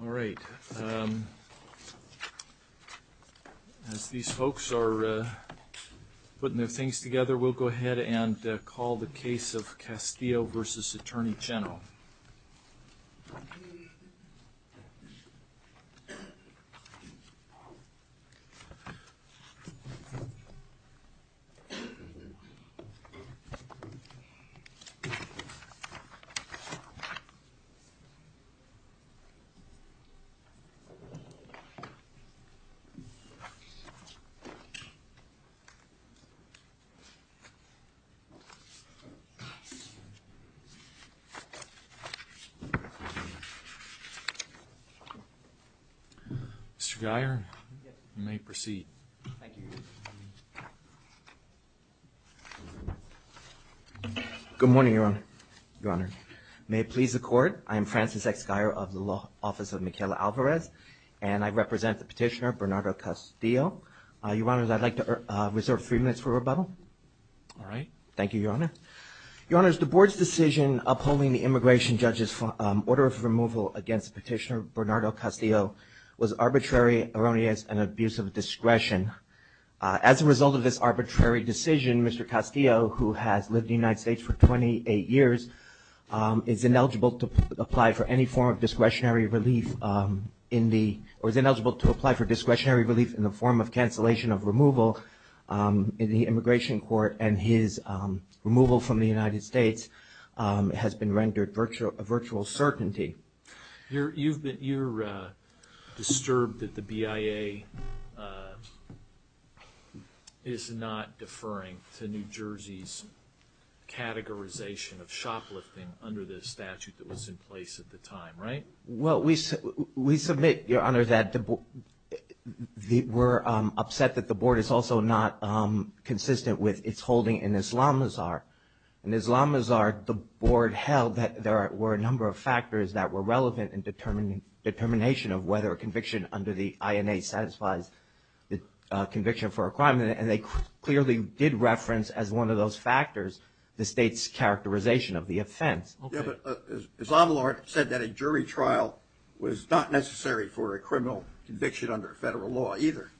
All right. As these folks are putting their things together, we'll go ahead and call the case of Castillo v. Attorney General. Mr. Guyer, you may proceed. Good morning, Your Honor. Your Honor, may it please the court, I am Francis X. Guyer of the Law Office of Michaela Alvarez, and I represent the petitioner Bernardo Castillo. Your Honor, I'd like to reserve three minutes for rebuttal. All right. Thank you, Your Honor. Your Honor, the board's decision upholding the immigration judge's order of removal against petitioner Bernardo Castillo was arbitrary, erroneous, and abuse of discretion. As a result of this arbitrary decision, Mr. Castillo, who has lived in the United States for 28 years, is ineligible to apply for any form of discretionary relief in the form of cancellation of removal in the immigration court, and his removal from the United States has been rendered virtual certainty. You're disturbed that the BIA is not deferring to New Jersey's categorization of shoplifting under the statute that was in place at the time, right? Well, we submit, Your Honor, that we're upset that the board is also not consistent with its holding in Islamazar. In Islamazar, the board held that there were a number of factors that were relevant in determination of whether a conviction under the INA satisfies the conviction for a crime, and they clearly did reference as one of those factors the state's characterization of the offense. Yeah, but Islamazar said that a jury trial was not necessary for a criminal conviction under federal law either.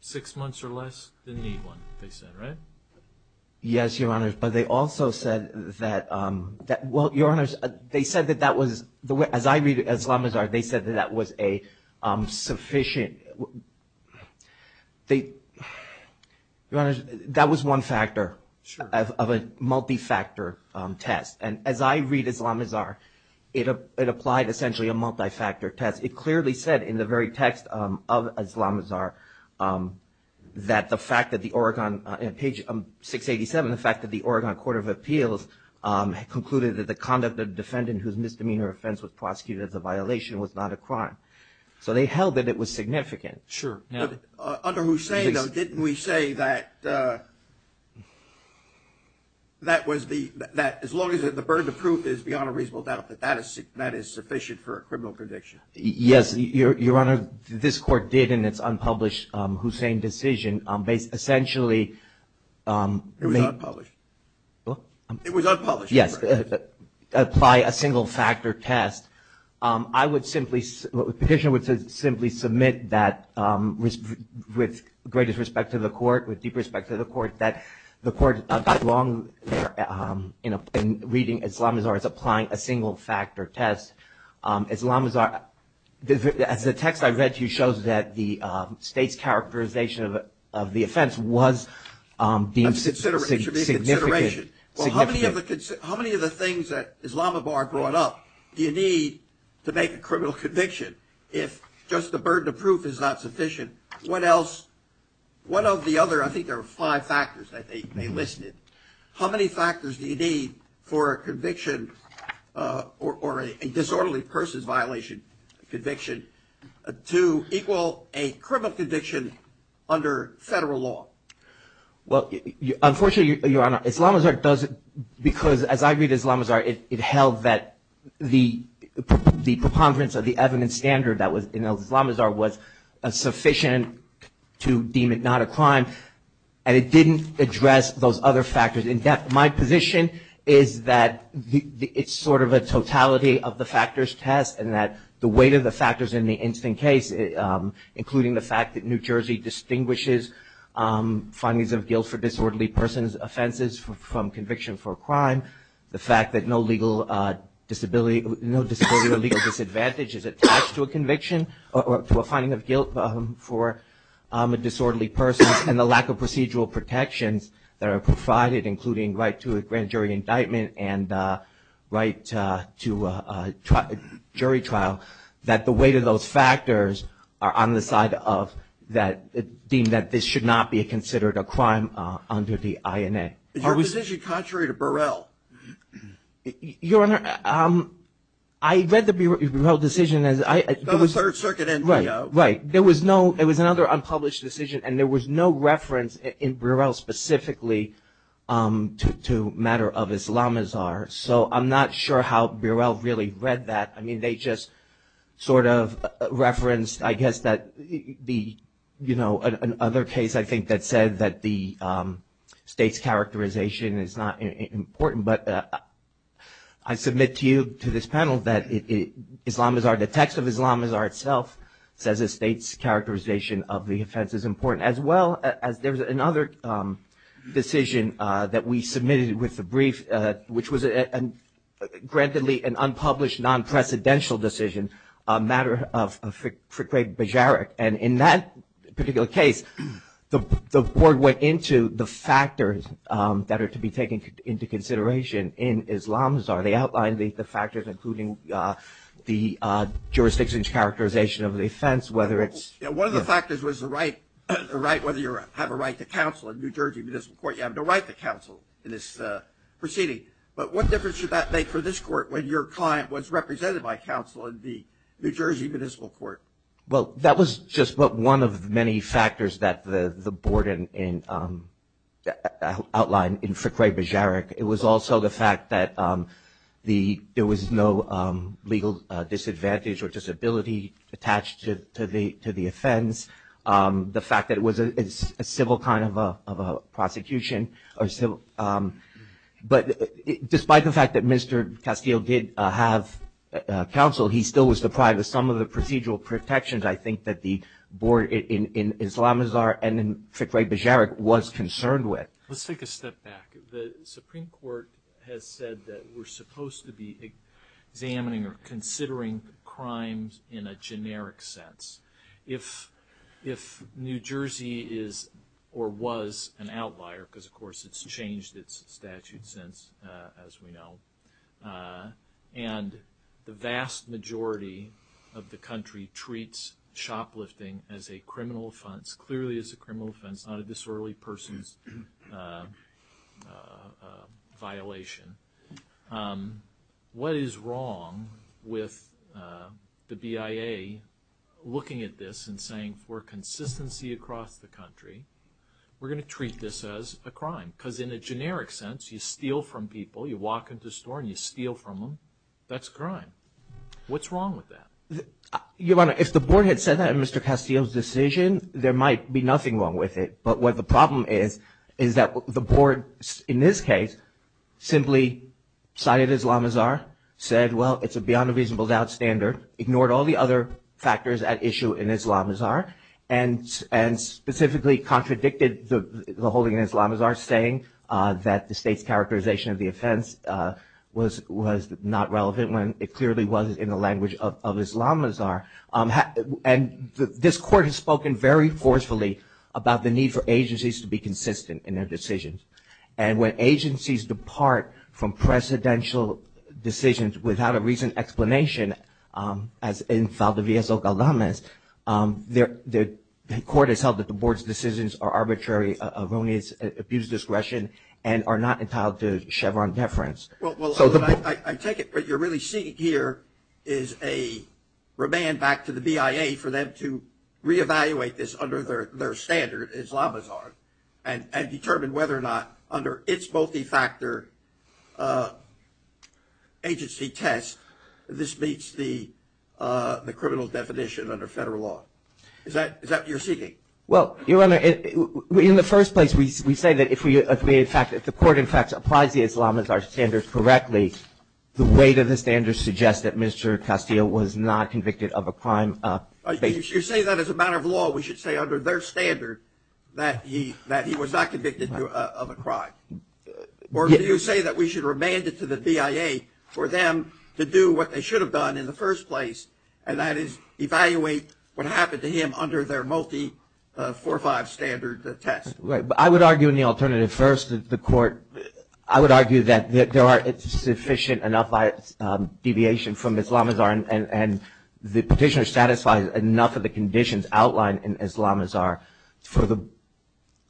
Six months or less didn't need one, they said, right? Yes, Your Honor, but they also said that, well, Your Honor, they said that that was, as I read Islamazar, they said that that was a sufficient, they, Your Honor, that was one factor of a multi-factor test. And as I read Islamazar, it applied essentially a multi-factor test. It clearly said in the very text of Islamazar that the fact that the Oregon, page 687, the fact that the Oregon Court of Appeals concluded that the conduct of the defendant whose misdemeanor offense was prosecuted as a violation was not a crime. So they held that it was significant. Sure, yeah. Under Hussain, though, didn't we say that that was the, that as long as the burden of proof is beyond a reasonable doubt that that is sufficient for a criminal conviction? Yes, Your Honor, this Court did in its unpublished Hussain decision, essentially. It was unpublished. What? It was unpublished. Yes, apply a single-factor test. I would simply, the petitioner would simply submit that with greatest respect to the Court, with deep respect to the Court, that the Court got wrong in reading Islamazar as applying a single-factor test. Islamazar, as the text I read to you shows that the State's characterization of the offense was deemed significant. Well, how many of the things that Islamazar brought up do you need to make a criminal conviction if just the burden of proof is not sufficient? What else? One of the other, I think there were five factors that they listed. How many factors do you need for a conviction or a disorderly person's violation conviction to equal a criminal conviction under federal law? Well, unfortunately, Your Honor, Islamazar doesn't, because as I read Islamazar, it held that the preponderance of the evidence standard that was in Islamazar was sufficient to deem it not a crime, and it didn't address those other factors in depth. My position is that it's sort of a totality of the factors test and that the weight of the factors in the instant case, including the fact that New Jersey distinguishes findings of guilt for disorderly person's offenses from conviction for a crime, the fact that no disability or legal disadvantage is attached to a conviction or to a finding of guilt for a disorderly person, and the lack of procedural protections that are provided, including right to a grand jury indictment and right to a jury trial, that the weight of those factors are on the side of that, deemed that this should not be considered a crime under the INA. Is your decision contrary to Burrell? Your Honor, I read the Burrell decision. It was a third circuit NPO. Right. There was no, it was another unpublished decision, and there was no reference in Burrell specifically to a matter of Islamazar. So I'm not sure how Burrell really read that. I mean, they just sort of referenced, I guess, that the, you know, another case I think that said that the state's characterization is not important. But I submit to you, to this panel, that Islamazar, the text of Islamazar itself, says the state's characterization of the offense is important, as well as there was another decision that we submitted with the brief, which was grantedly an unpublished, non-precedential decision, a matter of Frikred Bejarik. And in that particular case, the board went into the factors that are to be taken into consideration in Islamazar. They outlined the factors, including the jurisdiction's characterization of the offense, whether it's ‑‑ One of the factors was the right, whether you have a right to counsel. In New Jersey Municipal Court, you have no right to counsel in this proceeding. But what difference did that make for this court when your client was represented by counsel in the New Jersey Municipal Court? Well, that was just one of many factors that the board outlined in Frikred Bejarik. It was also the fact that there was no legal disadvantage or disability attached to the offense. The fact that it was a civil kind of a prosecution. But despite the fact that Mr. Castile did have counsel, he still was deprived of some of the procedural protections, I think, that the board in Islamazar and in Frikred Bejarik was concerned with. Let's take a step back. The Supreme Court has said that we're supposed to be examining or considering crimes in a generic sense. If New Jersey is or was an outlier, because, of course, it's changed its statute since, as we know, and the vast majority of the country treats shoplifting as a criminal offense, clearly as a criminal offense, not a disorderly person's violation, what is wrong with the BIA looking at this and saying, for consistency across the country, we're going to treat this as a crime? Because in a generic sense, you steal from people. You walk into a store and you steal from them. That's a crime. What's wrong with that? Your Honor, if the board had said that in Mr. Castile's decision, there might be nothing wrong with it. But what the problem is, is that the board, in this case, simply cited Islamazar, said, well, it's a beyond a reasonable doubt standard, ignored all the other factors at issue in Islamazar, and specifically contradicted the holding in Islamazar, saying that the state's characterization of the offense was not relevant when it clearly was in the language of Islamazar. And this court has spoken very forcefully about the need for agencies to be consistent in their decisions. And when agencies depart from presidential decisions without a reason explanation, as in Valdivia's or Galdamez, the court has held that the board's decisions are arbitrary, of only its abuse discretion, and are not entitled to Chevron deference. Well, I take it what you're really seeking here is a remand back to the BIA for them to reevaluate this under their standard, Islamazar, and determine whether or not under its multi-factor agency test this meets the criminal definition under federal law. Is that what you're seeking? Well, Your Honor, in the first place, we say that if the court, in fact, applies the Islamazar standard correctly, the weight of the standard suggests that Mr. Castillo was not convicted of a crime. You say that as a matter of law, we should say under their standard that he was not convicted of a crime. Or do you say that we should remand it to the BIA for them to do what they should have done in the first place, and that is evaluate what happened to him under their multi-4-5 standard test? Right. But I would argue in the alternative first that the court, I would argue that there are sufficient enough deviations from Islamazar and the petitioner satisfies enough of the conditions outlined in Islamazar for the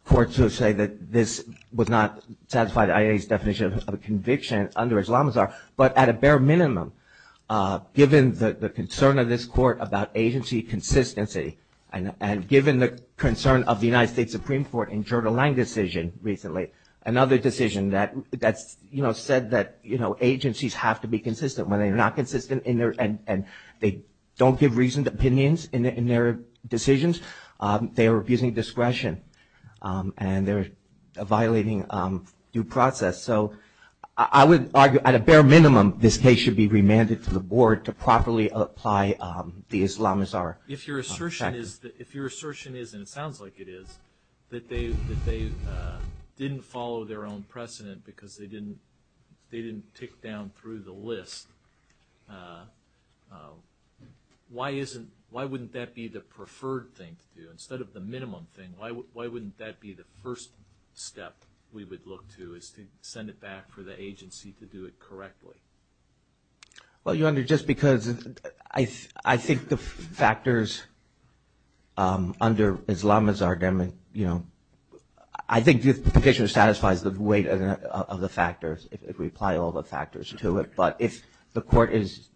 court to say that this would not satisfy the IA's definition of a conviction under Islamazar, but at a bare minimum, given the concern of this court about agency consistency and given the concern of the United States Supreme Court in Gerda Lang's decision recently, another decision that said that agencies have to be consistent. When they're not consistent and they don't give reasoned opinions in their decisions, they are abusing discretion and they're violating due process. So I would argue at a bare minimum this case should be remanded to the board to properly apply the Islamazar. If your assertion is, and it sounds like it is, that they didn't follow their own precedent because they didn't tick down through the list, why wouldn't that be the preferred thing to do instead of the minimum thing? Why wouldn't that be the first step we would look to is to send it back for the agency to do it correctly? Well, Your Honor, just because I think the factors under Islamazar, I think the petitioner satisfies the weight of the factors if we apply all the factors to it, but if the court is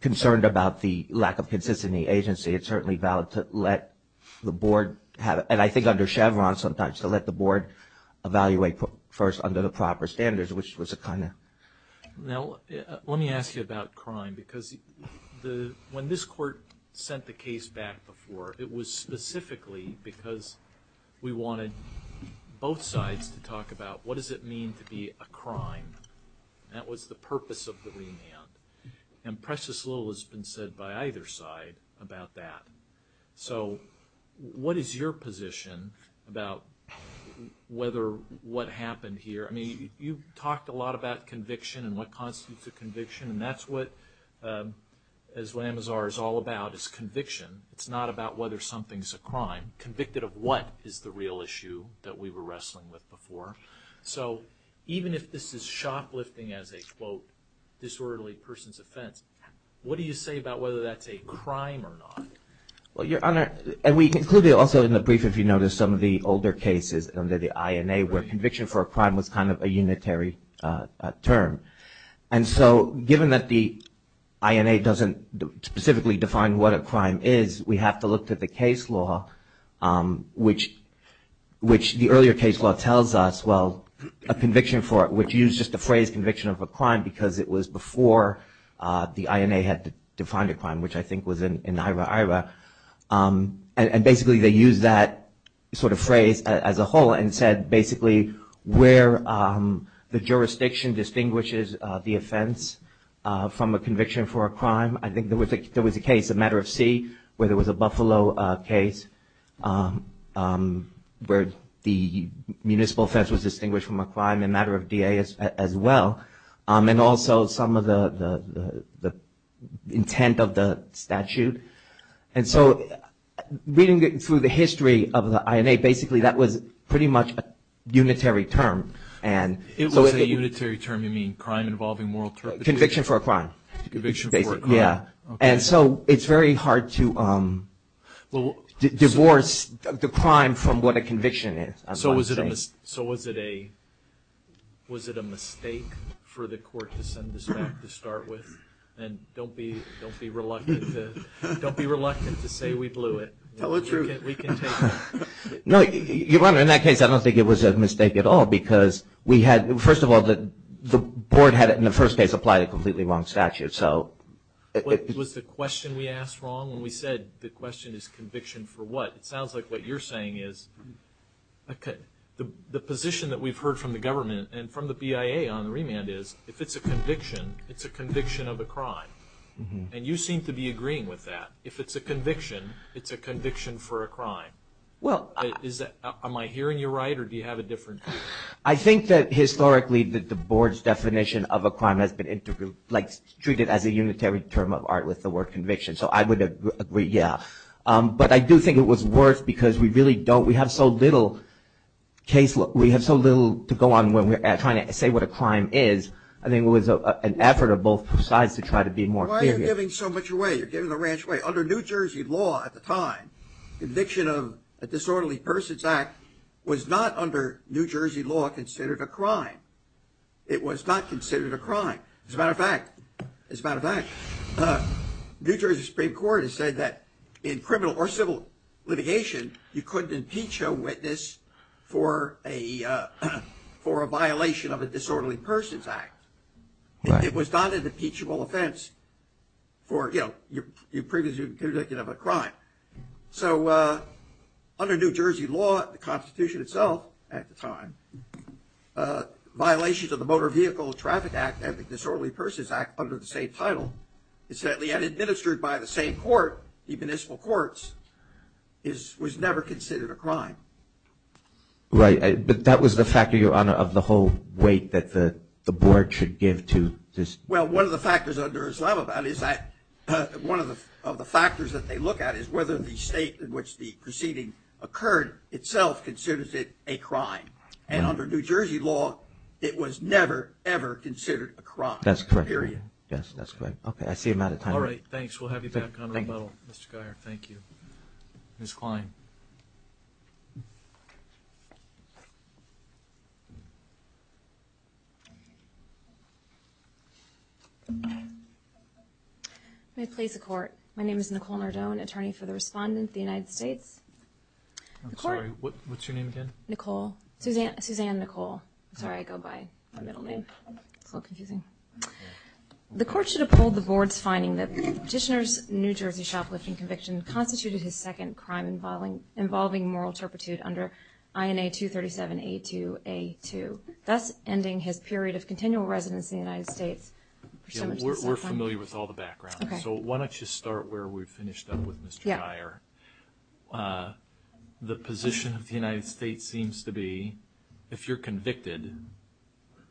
concerned about the lack of consistency in the agency, it's certainly valid to let the board, and I think under Chevron sometimes, to let the board evaluate first under the proper standards, which was a kind of... Now, let me ask you about crime because when this court sent the case back before, it was specifically because we wanted both sides to talk about what does it mean to be a crime. That was the purpose of the remand, and precious little has been said by either side about that. So what is your position about what happened here? I mean, you've talked a lot about conviction and what constitutes a conviction, and that's what Islamazar is all about is conviction. It's not about whether something's a crime. Convicted of what is the real issue that we were wrestling with before. So even if this is shoplifting as a, quote, disorderly person's offense, what do you say about whether that's a crime or not? Well, Your Honor, and we concluded also in the brief, if you notice, some of the older cases under the INA where conviction for a crime was kind of a unitary term. And so given that the INA doesn't specifically define what a crime is, we have to look to the case law, which the earlier case law tells us, well, a conviction for it, which used just the phrase conviction of a crime because it was before the INA had defined a crime, which I think was in Ira-Ira. And basically they used that sort of phrase as a whole and said basically where the jurisdiction distinguishes the offense from a conviction for a crime. I think there was a case, a matter of C, where there was a Buffalo case where the municipal offense was distinguished from a crime, a matter of DA as well, and also some of the intent of the statute. And so reading it through the history of the INA, basically that was pretty much a unitary term. It was a unitary term. You mean crime involving moral terms? Conviction for a crime. Conviction for a crime. Yeah. And so it's very hard to divorce the crime from what a conviction is. So was it a mistake for the court to send this back to start with? And don't be reluctant to say we blew it. Tell the truth. We can take it. No, Your Honor, in that case I don't think it was a mistake at all because we had, first of all, the board had in the first case applied a completely wrong statute. Was the question we asked wrong when we said the question is conviction for what? It sounds like what you're saying is the position that we've heard from the government and from the BIA on the remand is if it's a conviction, it's a conviction of a crime. And you seem to be agreeing with that. If it's a conviction, it's a conviction for a crime. Am I hearing you right or do you have a different view? I think that historically the board's definition of a crime has been treated as a unitary term of art with the word conviction. So I would agree, yeah. But I do think it was worse because we really don't, we have so little case, we have so little to go on when we're trying to say what a crime is. I think it was an effort of both sides to try to be more clear. Why are you giving so much away? You're giving the ranch away. Under New Jersey law at the time, conviction of a disorderly person's act was not under New Jersey law considered a crime. It was not considered a crime. As a matter of fact, New Jersey Supreme Court has said that in criminal or civil litigation, you couldn't impeach a witness for a violation of a disorderly person's act. It was not an impeachable offense for your previous conviction of a crime. So under New Jersey law, the Constitution itself at the time, violations of the Motor Vehicle Traffic Act and the Disorderly Persons Act under the same title, and administered by the same court, the municipal courts, was never considered a crime. Right. But that was the factor, Your Honor, of the whole weight that the board should give to this. Well, one of the factors under Islamabad is that one of the factors that they look at is whether the state in which the proceeding occurred itself considers it a crime. And under New Jersey law, it was never, ever considered a crime. That's correct. Period. Yes, that's correct. Okay. I see I'm out of time. All right. Thanks. We'll have you back on rebuttal, Mr. Guyer. Thank you. Ms. Klein. May it please the Court, my name is Nicole Nardone, attorney for the Respondent of the United States. I'm sorry. What's your name again? Nicole. Suzanne Nicole. Sorry, I go by my middle name. It's a little confusing. The Court should uphold the board's finding that the petitioner's New Jersey shoplifting conviction constituted his second crime involving moral turpitude under INA 237A2A2, thus ending his period of continual residence in the United States. We're familiar with all the backgrounds. So why don't you start where we finished up with Mr. Guyer. The position of the United States seems to be if you're convicted,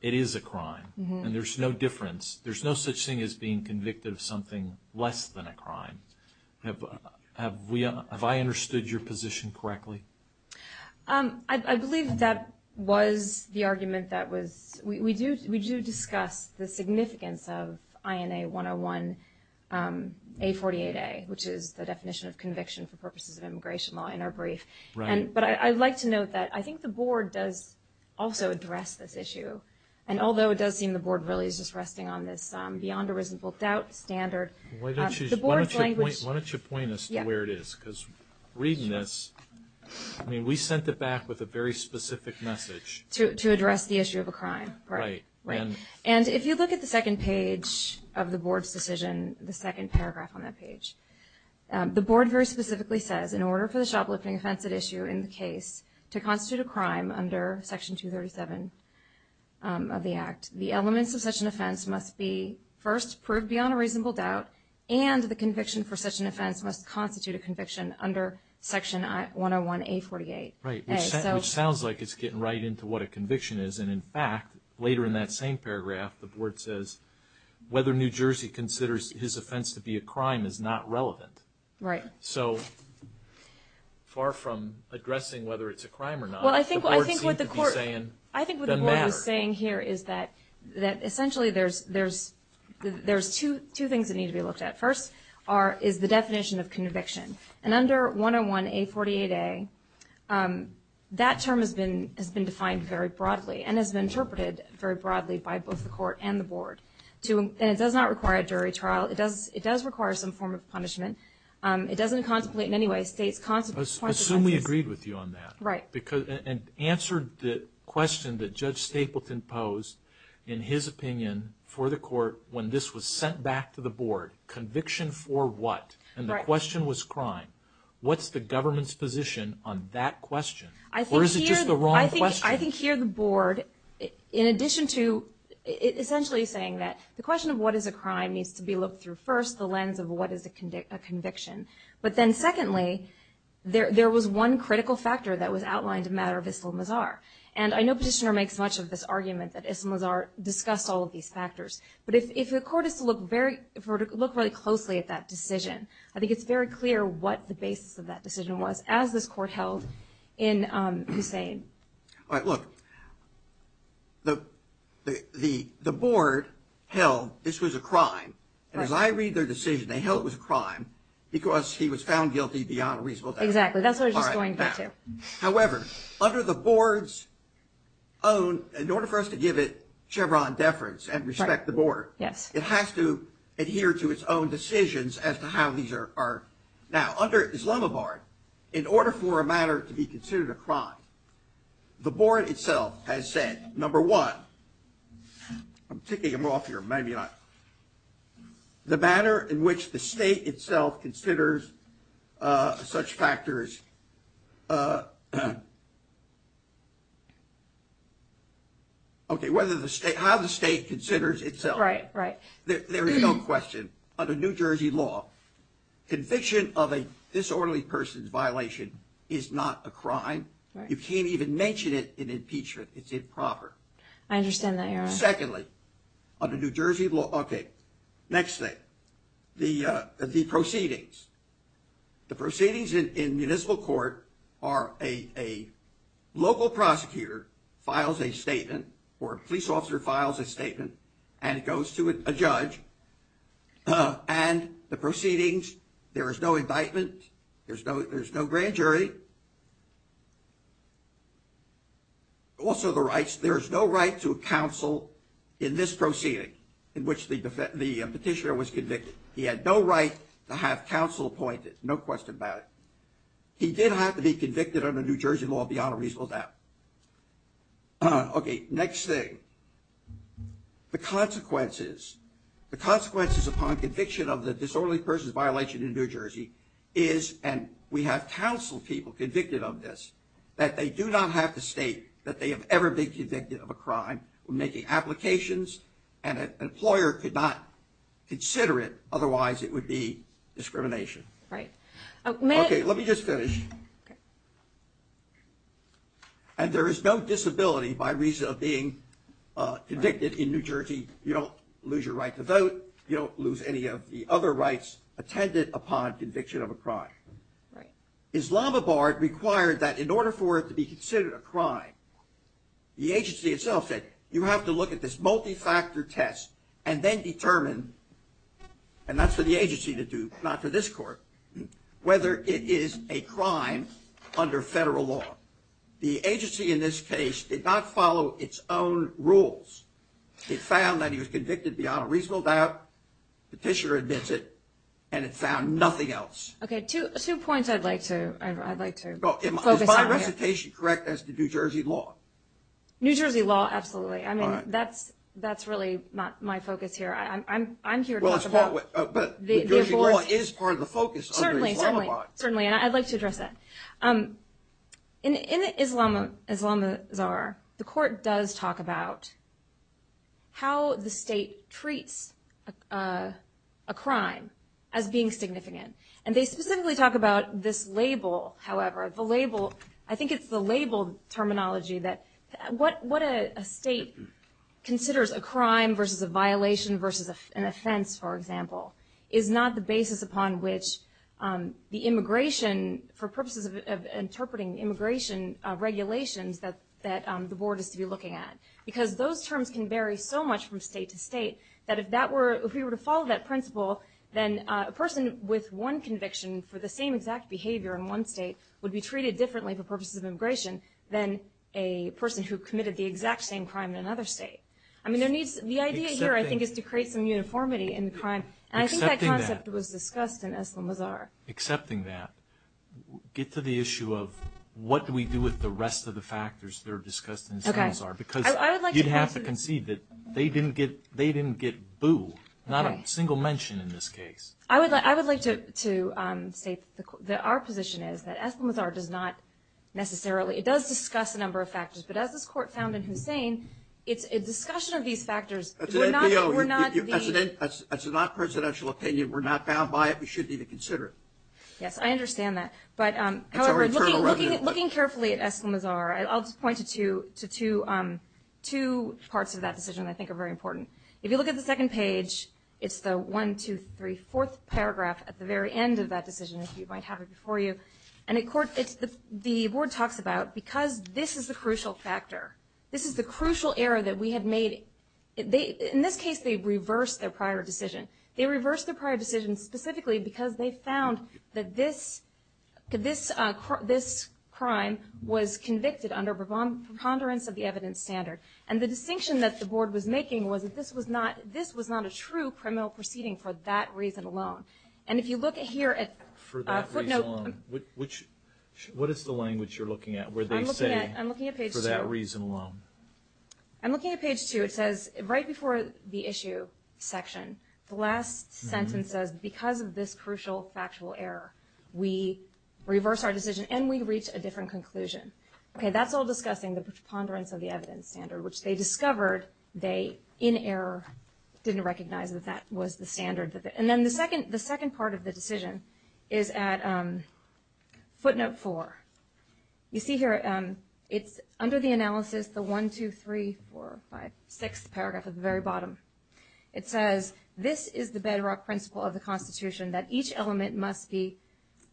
it is a crime. And there's no difference. There's no such thing as being convicted of something less than a crime. Have I understood your position correctly? I believe that was the argument that was we do discuss the significance of INA 101A48A, which is the definition of conviction for purposes of immigration law in our brief. But I'd like to note that I think the board does also address this issue. And although it does seem the board really is just resting on this beyond a reasonable doubt standard. Why don't you point us to where it is? Because reading this, I mean, we sent it back with a very specific message. To address the issue of a crime. Right. And if you look at the second page of the board's decision, the second paragraph on that page, the board very specifically says in order for the shoplifting offense at issue in the case to constitute a crime under Section 237 of the Act, the elements of such an offense must be first proved beyond a reasonable doubt and the conviction for such an offense must constitute a conviction under Section 101A48A. Right. Which sounds like it's getting right into what a conviction is. And, in fact, later in that same paragraph, the board says whether New Jersey considers his offense to be a crime is not relevant. Right. So far from addressing whether it's a crime or not. Well, I think what the board is saying here is that essentially there's two things that need to be looked at. First is the definition of conviction. And under 101A48A, that term has been defined very broadly and has been interpreted very broadly by both the court and the board. And it does not require a jury trial. It does require some form of punishment. It doesn't contemplate in any way states' points of emphasis. Assume we agreed with you on that. Right. And answered the question that Judge Stapleton posed in his opinion for the court when this was sent back to the board. Conviction for what? And the question was crime. What's the government's position on that question? Or is it just the wrong question? I think here the board, in addition to essentially saying that the question of what is a crime needs to be looked through first, the lens of what is a conviction. But then, secondly, there was one critical factor that was outlined in the matter of Issam Lazar. And I know Petitioner makes much of this argument that Issam Lazar discussed all of these factors. But if the court is to look very closely at that decision, I think it's very clear what the basis of that decision was as this court held in Hussein. All right. Look, the board held this was a crime. And as I read their decision, they held it was a crime because he was found guilty beyond a reasonable doubt. Exactly. That's what I was just going to get to. However, under the board's own, in order for us to give it Chevron deference and respect the board, it has to adhere to its own decisions as to how these are. Now, under Islamabad, in order for a matter to be considered a crime, the board itself has said, number one, I'm ticking them off here. Maybe not. The matter in which the state itself considers such factors. Okay. Whether the state, how the state considers itself. Right, right. There is no question under New Jersey law, conviction of a disorderly person's violation is not a crime. You can't even mention it in impeachment. It's improper. I understand that. Secondly, under New Jersey law. Okay. Next thing. The the proceedings. The proceedings in municipal court are a local prosecutor files a statement or a police officer files a statement and it goes to a judge. And the proceedings, there is no indictment. There's no there's no grand jury. Also the rights, there is no right to counsel in this proceeding in which the petitioner was convicted. He had no right to have counsel appointed. No question about it. He did have to be convicted under New Jersey law beyond a reasonable doubt. Okay. Next thing. The consequences. The consequences upon conviction of the disorderly person's violation in New Jersey is, and we have counseled people convicted of this, that they do not have to state that they have ever been convicted of a crime when making applications and an employer could not consider it. Otherwise, it would be discrimination. Right. Okay, let me just finish. Okay. And there is no disability by reason of being convicted in New Jersey. You don't lose your right to vote. You don't lose any of the other rights attended upon conviction of a crime. Islamabad required that in order for it to be considered a crime, the agency itself said, you have to look at this multi-factor test and then determine, and that's for the agency to do, not for this court, whether it is a crime under federal law. The agency in this case did not follow its own rules. It found that he was convicted beyond a reasonable doubt. Petitioner admits it, and it found nothing else. Okay, two points I'd like to focus on here. Is my recitation correct as to New Jersey law? New Jersey law, absolutely. I mean, that's really not my focus here. I'm here to talk about the abortion. But New Jersey law is part of the focus under Islamabad. Certainly, and I'd like to address that. In Islamazar, the court does talk about how the state treats a crime as being significant. And they specifically talk about this label, however. I think it's the label terminology that what a state considers a crime versus a violation versus an offense, for example, is not the basis upon which the immigration, for purposes of interpreting immigration regulations, that the board is to be looking at. Because those terms can vary so much from state to state that if we were to follow that principle, then a person with one conviction for the same exact behavior in one state would be treated differently for purposes of immigration than a person who committed the exact same crime in another state. I mean, the idea here, I think, is to create some uniformity in the crime. And I think that concept was discussed in Islamazar. Accepting that, get to the issue of what do we do with the rest of the factors that are discussed in Islamazar? Because you'd have to concede that they didn't get booed, not a single mention in this case. I would like to state that our position is that Islamazar does not necessarily, it does discuss a number of factors, but as this court found in Hussein, it's a discussion of these factors. As an NPO, as a non-presidential opinion, we're not bound by it. We shouldn't even consider it. Yes, I understand that. But, however, looking carefully at Islamazar, I'll just point to two parts of that decision that I think are very important. If you look at the second page, it's the 1, 2, 3, 4th paragraph at the very end of that decision, if you might have it before you. And the board talks about, because this is the crucial factor, this is the crucial error that we have made. In this case, they reversed their prior decision. They reversed their prior decision specifically because they found that this crime was convicted under preponderance of the evidence standard. And the distinction that the board was making was that this was not a true criminal proceeding for that reason alone. And if you look here at footnote. For that reason alone. What is the language you're looking at where they say for that reason alone? I'm looking at page 2. I'm looking at page 2. It says, right before the issue section, the last sentence says, because of this crucial factual error, we reverse our decision and we reach a different conclusion. Okay, that's all discussing the preponderance of the evidence standard, which they discovered they, in error, didn't recognize that that was the standard. And then the second part of the decision is at footnote 4. You see here, it's under the analysis, the 1, 2, 3, 4, 5, 6th paragraph at the very bottom. It says, this is the bedrock principle of the Constitution, that each element must be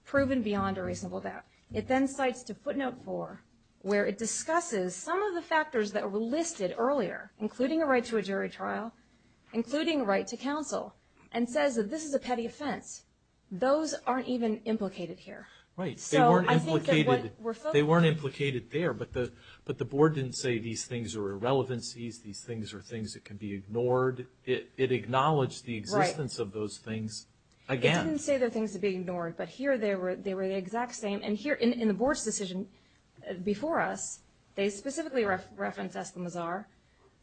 proven beyond a reasonable doubt. It then cites to footnote 4 where it discusses some of the factors that were listed earlier, including a right to a jury trial, including a right to counsel, and says that this is a petty offense. Those aren't even implicated here. Right. They weren't implicated there, but the board didn't say these things are irrelevancies, these things are things that can be ignored. It acknowledged the existence of those things again. Right. It didn't say they're things to be ignored, but here they were the exact same. And here, in the board's decision before us, they specifically referenced Eskimo Czar,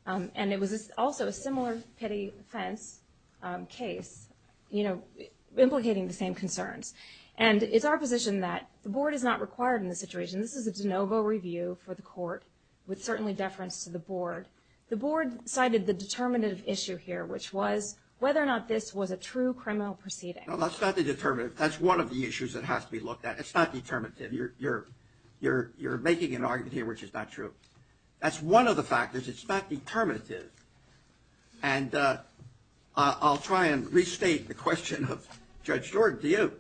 and it was also a similar petty offense case, you know, implicating the same concerns. And it's our position that the board is not required in this situation. This is a de novo review for the court, with certainly deference to the board. The board cited the determinative issue here, which was whether or not this was a true criminal proceeding. No, that's not the determinative. That's one of the issues that has to be looked at. It's not determinative. You're making an argument here which is not true. That's one of the factors. It's not determinative. And I'll try and restate the question of Judge Jordan to you.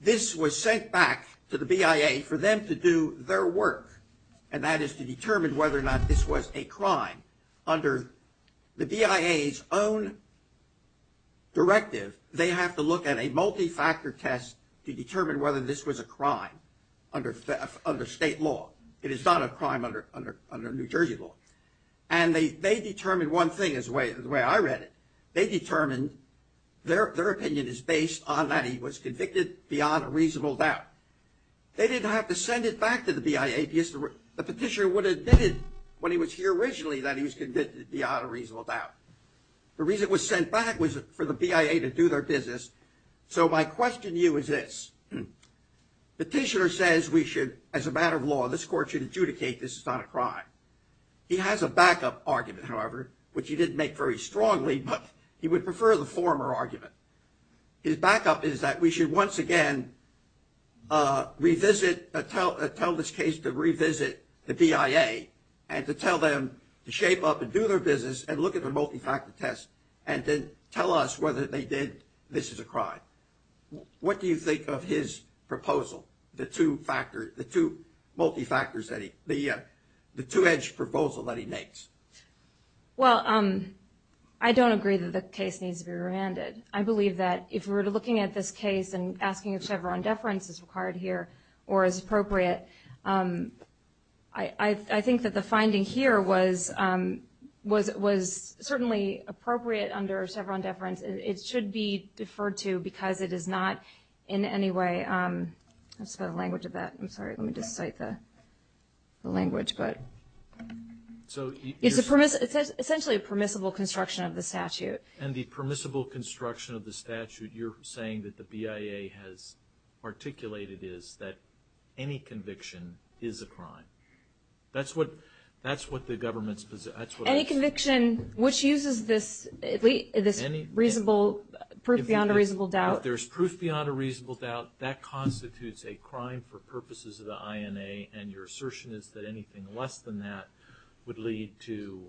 This was sent back to the BIA for them to do their work, and that is to determine whether or not this was a crime. Under the BIA's own directive, they have to look at a multi-factor test to determine whether this was a crime under state law. It is not a crime under New Jersey law. And they determined one thing is the way I read it. They determined their opinion is based on that he was convicted beyond a reasonable doubt. They didn't have to send it back to the BIA because the petitioner would have admitted when he was here originally that he was convicted beyond a reasonable doubt. The reason it was sent back was for the BIA to do their business. So my question to you is this. Petitioner says we should, as a matter of law, this court should adjudicate this is not a crime. He has a backup argument, however, which he didn't make very strongly, but he would prefer the former argument. His backup is that we should once again tell this case to revisit the BIA and to tell them to shape up and do their business and look at the multi-factor test and then tell us whether they did, this is a crime. What do you think of his proposal, the two factors, the two-edged proposal that he makes? Well, I don't agree that the case needs to be remanded. I believe that if we were looking at this case and asking if Chevron deference is required here or is appropriate, I think that the finding here was certainly appropriate under Chevron deference. It should be deferred to because it is not in any way, I don't know the language of that. I'm sorry, let me just cite the language. It's essentially a permissible construction of the statute. And the permissible construction of the statute, you're saying that the BIA has articulated is that any conviction is a crime. That's what the government's position is. Any conviction which uses this proof beyond a reasonable doubt. That constitutes a crime for purposes of the INA, and your assertion is that anything less than that would lead to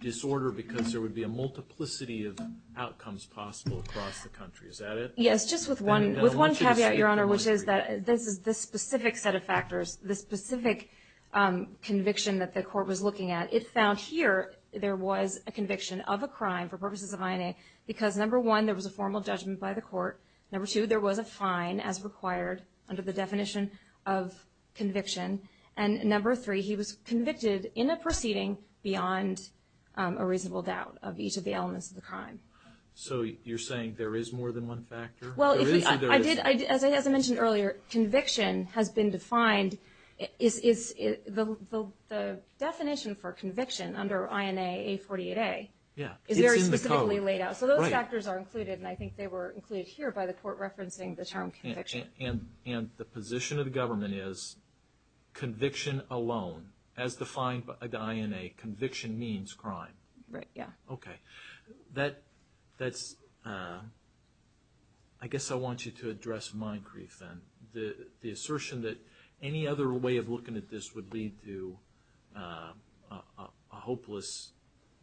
disorder because there would be a multiplicity of outcomes possible across the country. Is that it? Yes, just with one caveat, Your Honor, which is that this specific set of factors, this specific conviction that the court was looking at, it found here there was a conviction of a crime for purposes of INA because, number one, there was a formal judgment by the court. Number two, there was a fine as required under the definition of conviction. And number three, he was convicted in a proceeding beyond a reasonable doubt of each of the elements of the crime. So you're saying there is more than one factor? Well, as I mentioned earlier, conviction has been defined. The definition for conviction under INA, A48A, is very specifically laid out. So those factors are included, and I think they were included here by the court referencing the term conviction. And the position of the government is conviction alone, as defined by the INA, conviction means crime. Right, yeah. Okay. That's – I guess I want you to address my grief then. The assertion that any other way of looking at this would lead to a hopeless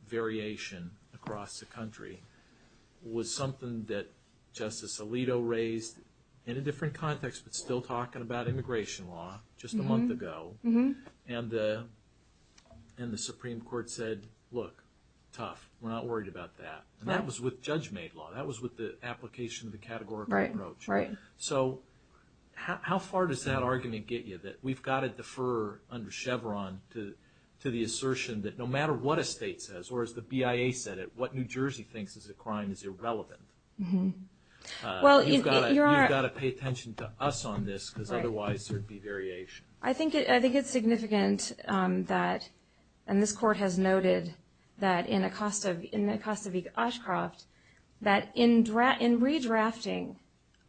variation across the country was something that Justice Alito raised in a different context, but still talking about immigration law just a month ago. And the Supreme Court said, look, tough. We're not worried about that. And that was with judge-made law. That was with the application of the categorical approach. Right, right. So how far does that argument get you, that we've got to defer under Chevron to the assertion that no matter what a state says, or as the BIA said it, what New Jersey thinks is a crime is irrelevant. You've got to pay attention to us on this because otherwise there would be variation. I think it's significant that, and this court has noted, that in Acosta v. Oshkroft, that in redrafting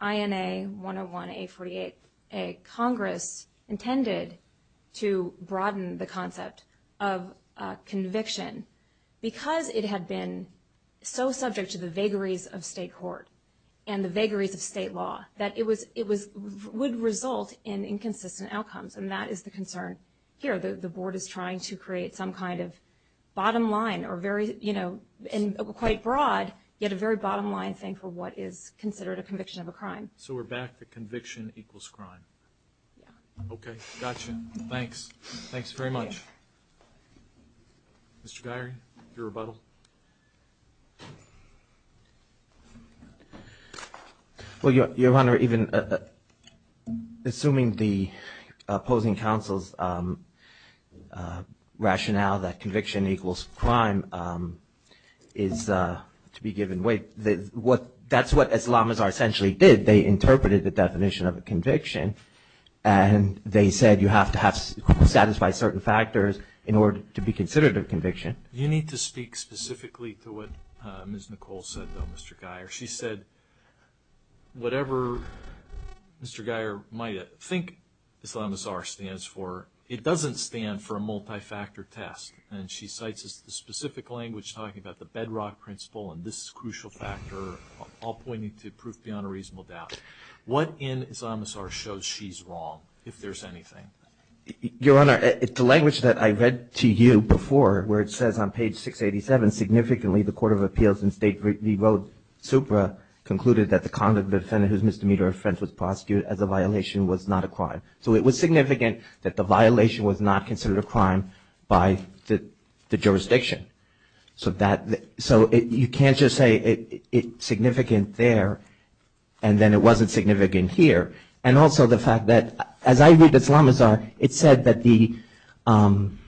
INA 101, A48A, Congress intended to broaden the concept of conviction because it had been so subject to the vagaries of state court and the vagaries of state law that it would result in inconsistent outcomes. And that is the concern here. The board is trying to create some kind of bottom line or very, you know, and quite broad, yet a very bottom line thing for what is considered a conviction of a crime. So we're back to conviction equals crime. Okay. Got you. Thanks. Thanks very much. Mr. Geary, your rebuttal. Well, Your Honor, even assuming the opposing counsel's rationale that conviction equals crime is to be given weight, that's what Islamazar essentially did. They interpreted the definition of a conviction, and they said you have to satisfy certain factors in order to be considered a conviction. You need to speak specifically to what Ms. Nicole said, though, Mr. Geary. She said whatever Mr. Geary might think Islamazar stands for, it doesn't stand for a multi-factor test. And she cites the specific language talking about the bedrock principle and this crucial factor, all pointing to proof beyond a reasonable doubt. What in Islamazar shows she's wrong, if there's anything? Your Honor, the language that I read to you before, where it says on page 687, significantly the Court of Appeals in State v. Supra concluded that the conduct of a defendant whose misdemeanor offense was prosecuted as a violation was not a crime. So it was significant that the violation was not considered a crime by the jurisdiction. So you can't just say it's significant there and then it wasn't significant here. And also the fact that as I read Islamazar, it said that the beyond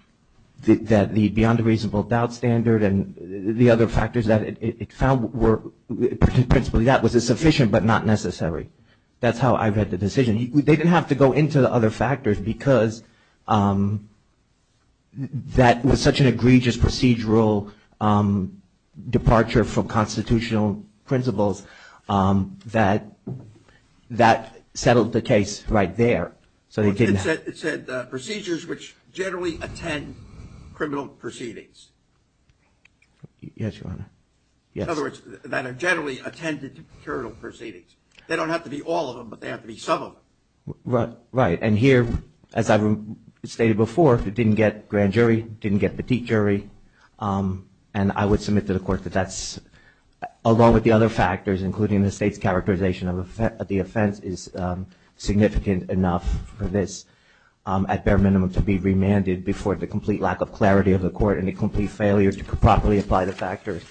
a reasonable doubt standard and the other factors that it found were principally that was sufficient but not necessary. That's how I read the decision. They didn't have to go into the other factors because that was such an unprocedural departure from constitutional principles that that settled the case right there. It said procedures which generally attend criminal proceedings. Yes, Your Honor. In other words, that are generally attended to criminal proceedings. They don't have to be all of them, but they have to be some of them. Right. And here, as I stated before, it didn't get grand jury, didn't get petite jury. And I would submit to the Court that that's, along with the other factors, including the State's characterization of the offense, is significant enough for this at bare minimum to be remanded before the complete lack of clarity of the Court and the complete failure to properly apply the factors.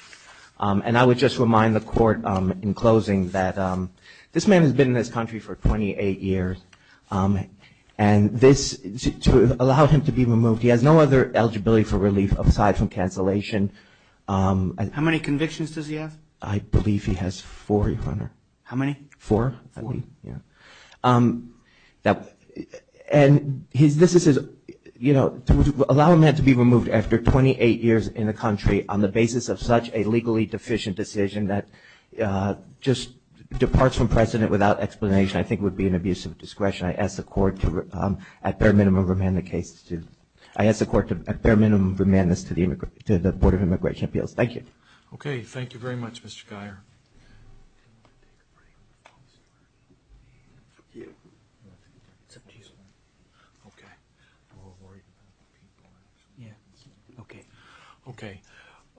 And I would just remind the Court in closing that this man has been in this country for 28 years. And this, to allow him to be removed, he has no other eligibility for relief aside from cancellation. How many convictions does he have? I believe he has four, Your Honor. How many? Four. Four. And this is, you know, to allow a man to be removed after 28 years in the country on the basis of such a legally deficient decision that just departs from precedent without explanation I think would be an abuse of discretion. I ask the Court to, at bare minimum, remand the case. I ask the Court to, at bare minimum, remand this to the Board of Immigration Appeals. Thank you. Okay. Thank you very much, Mr. Guyer. Okay.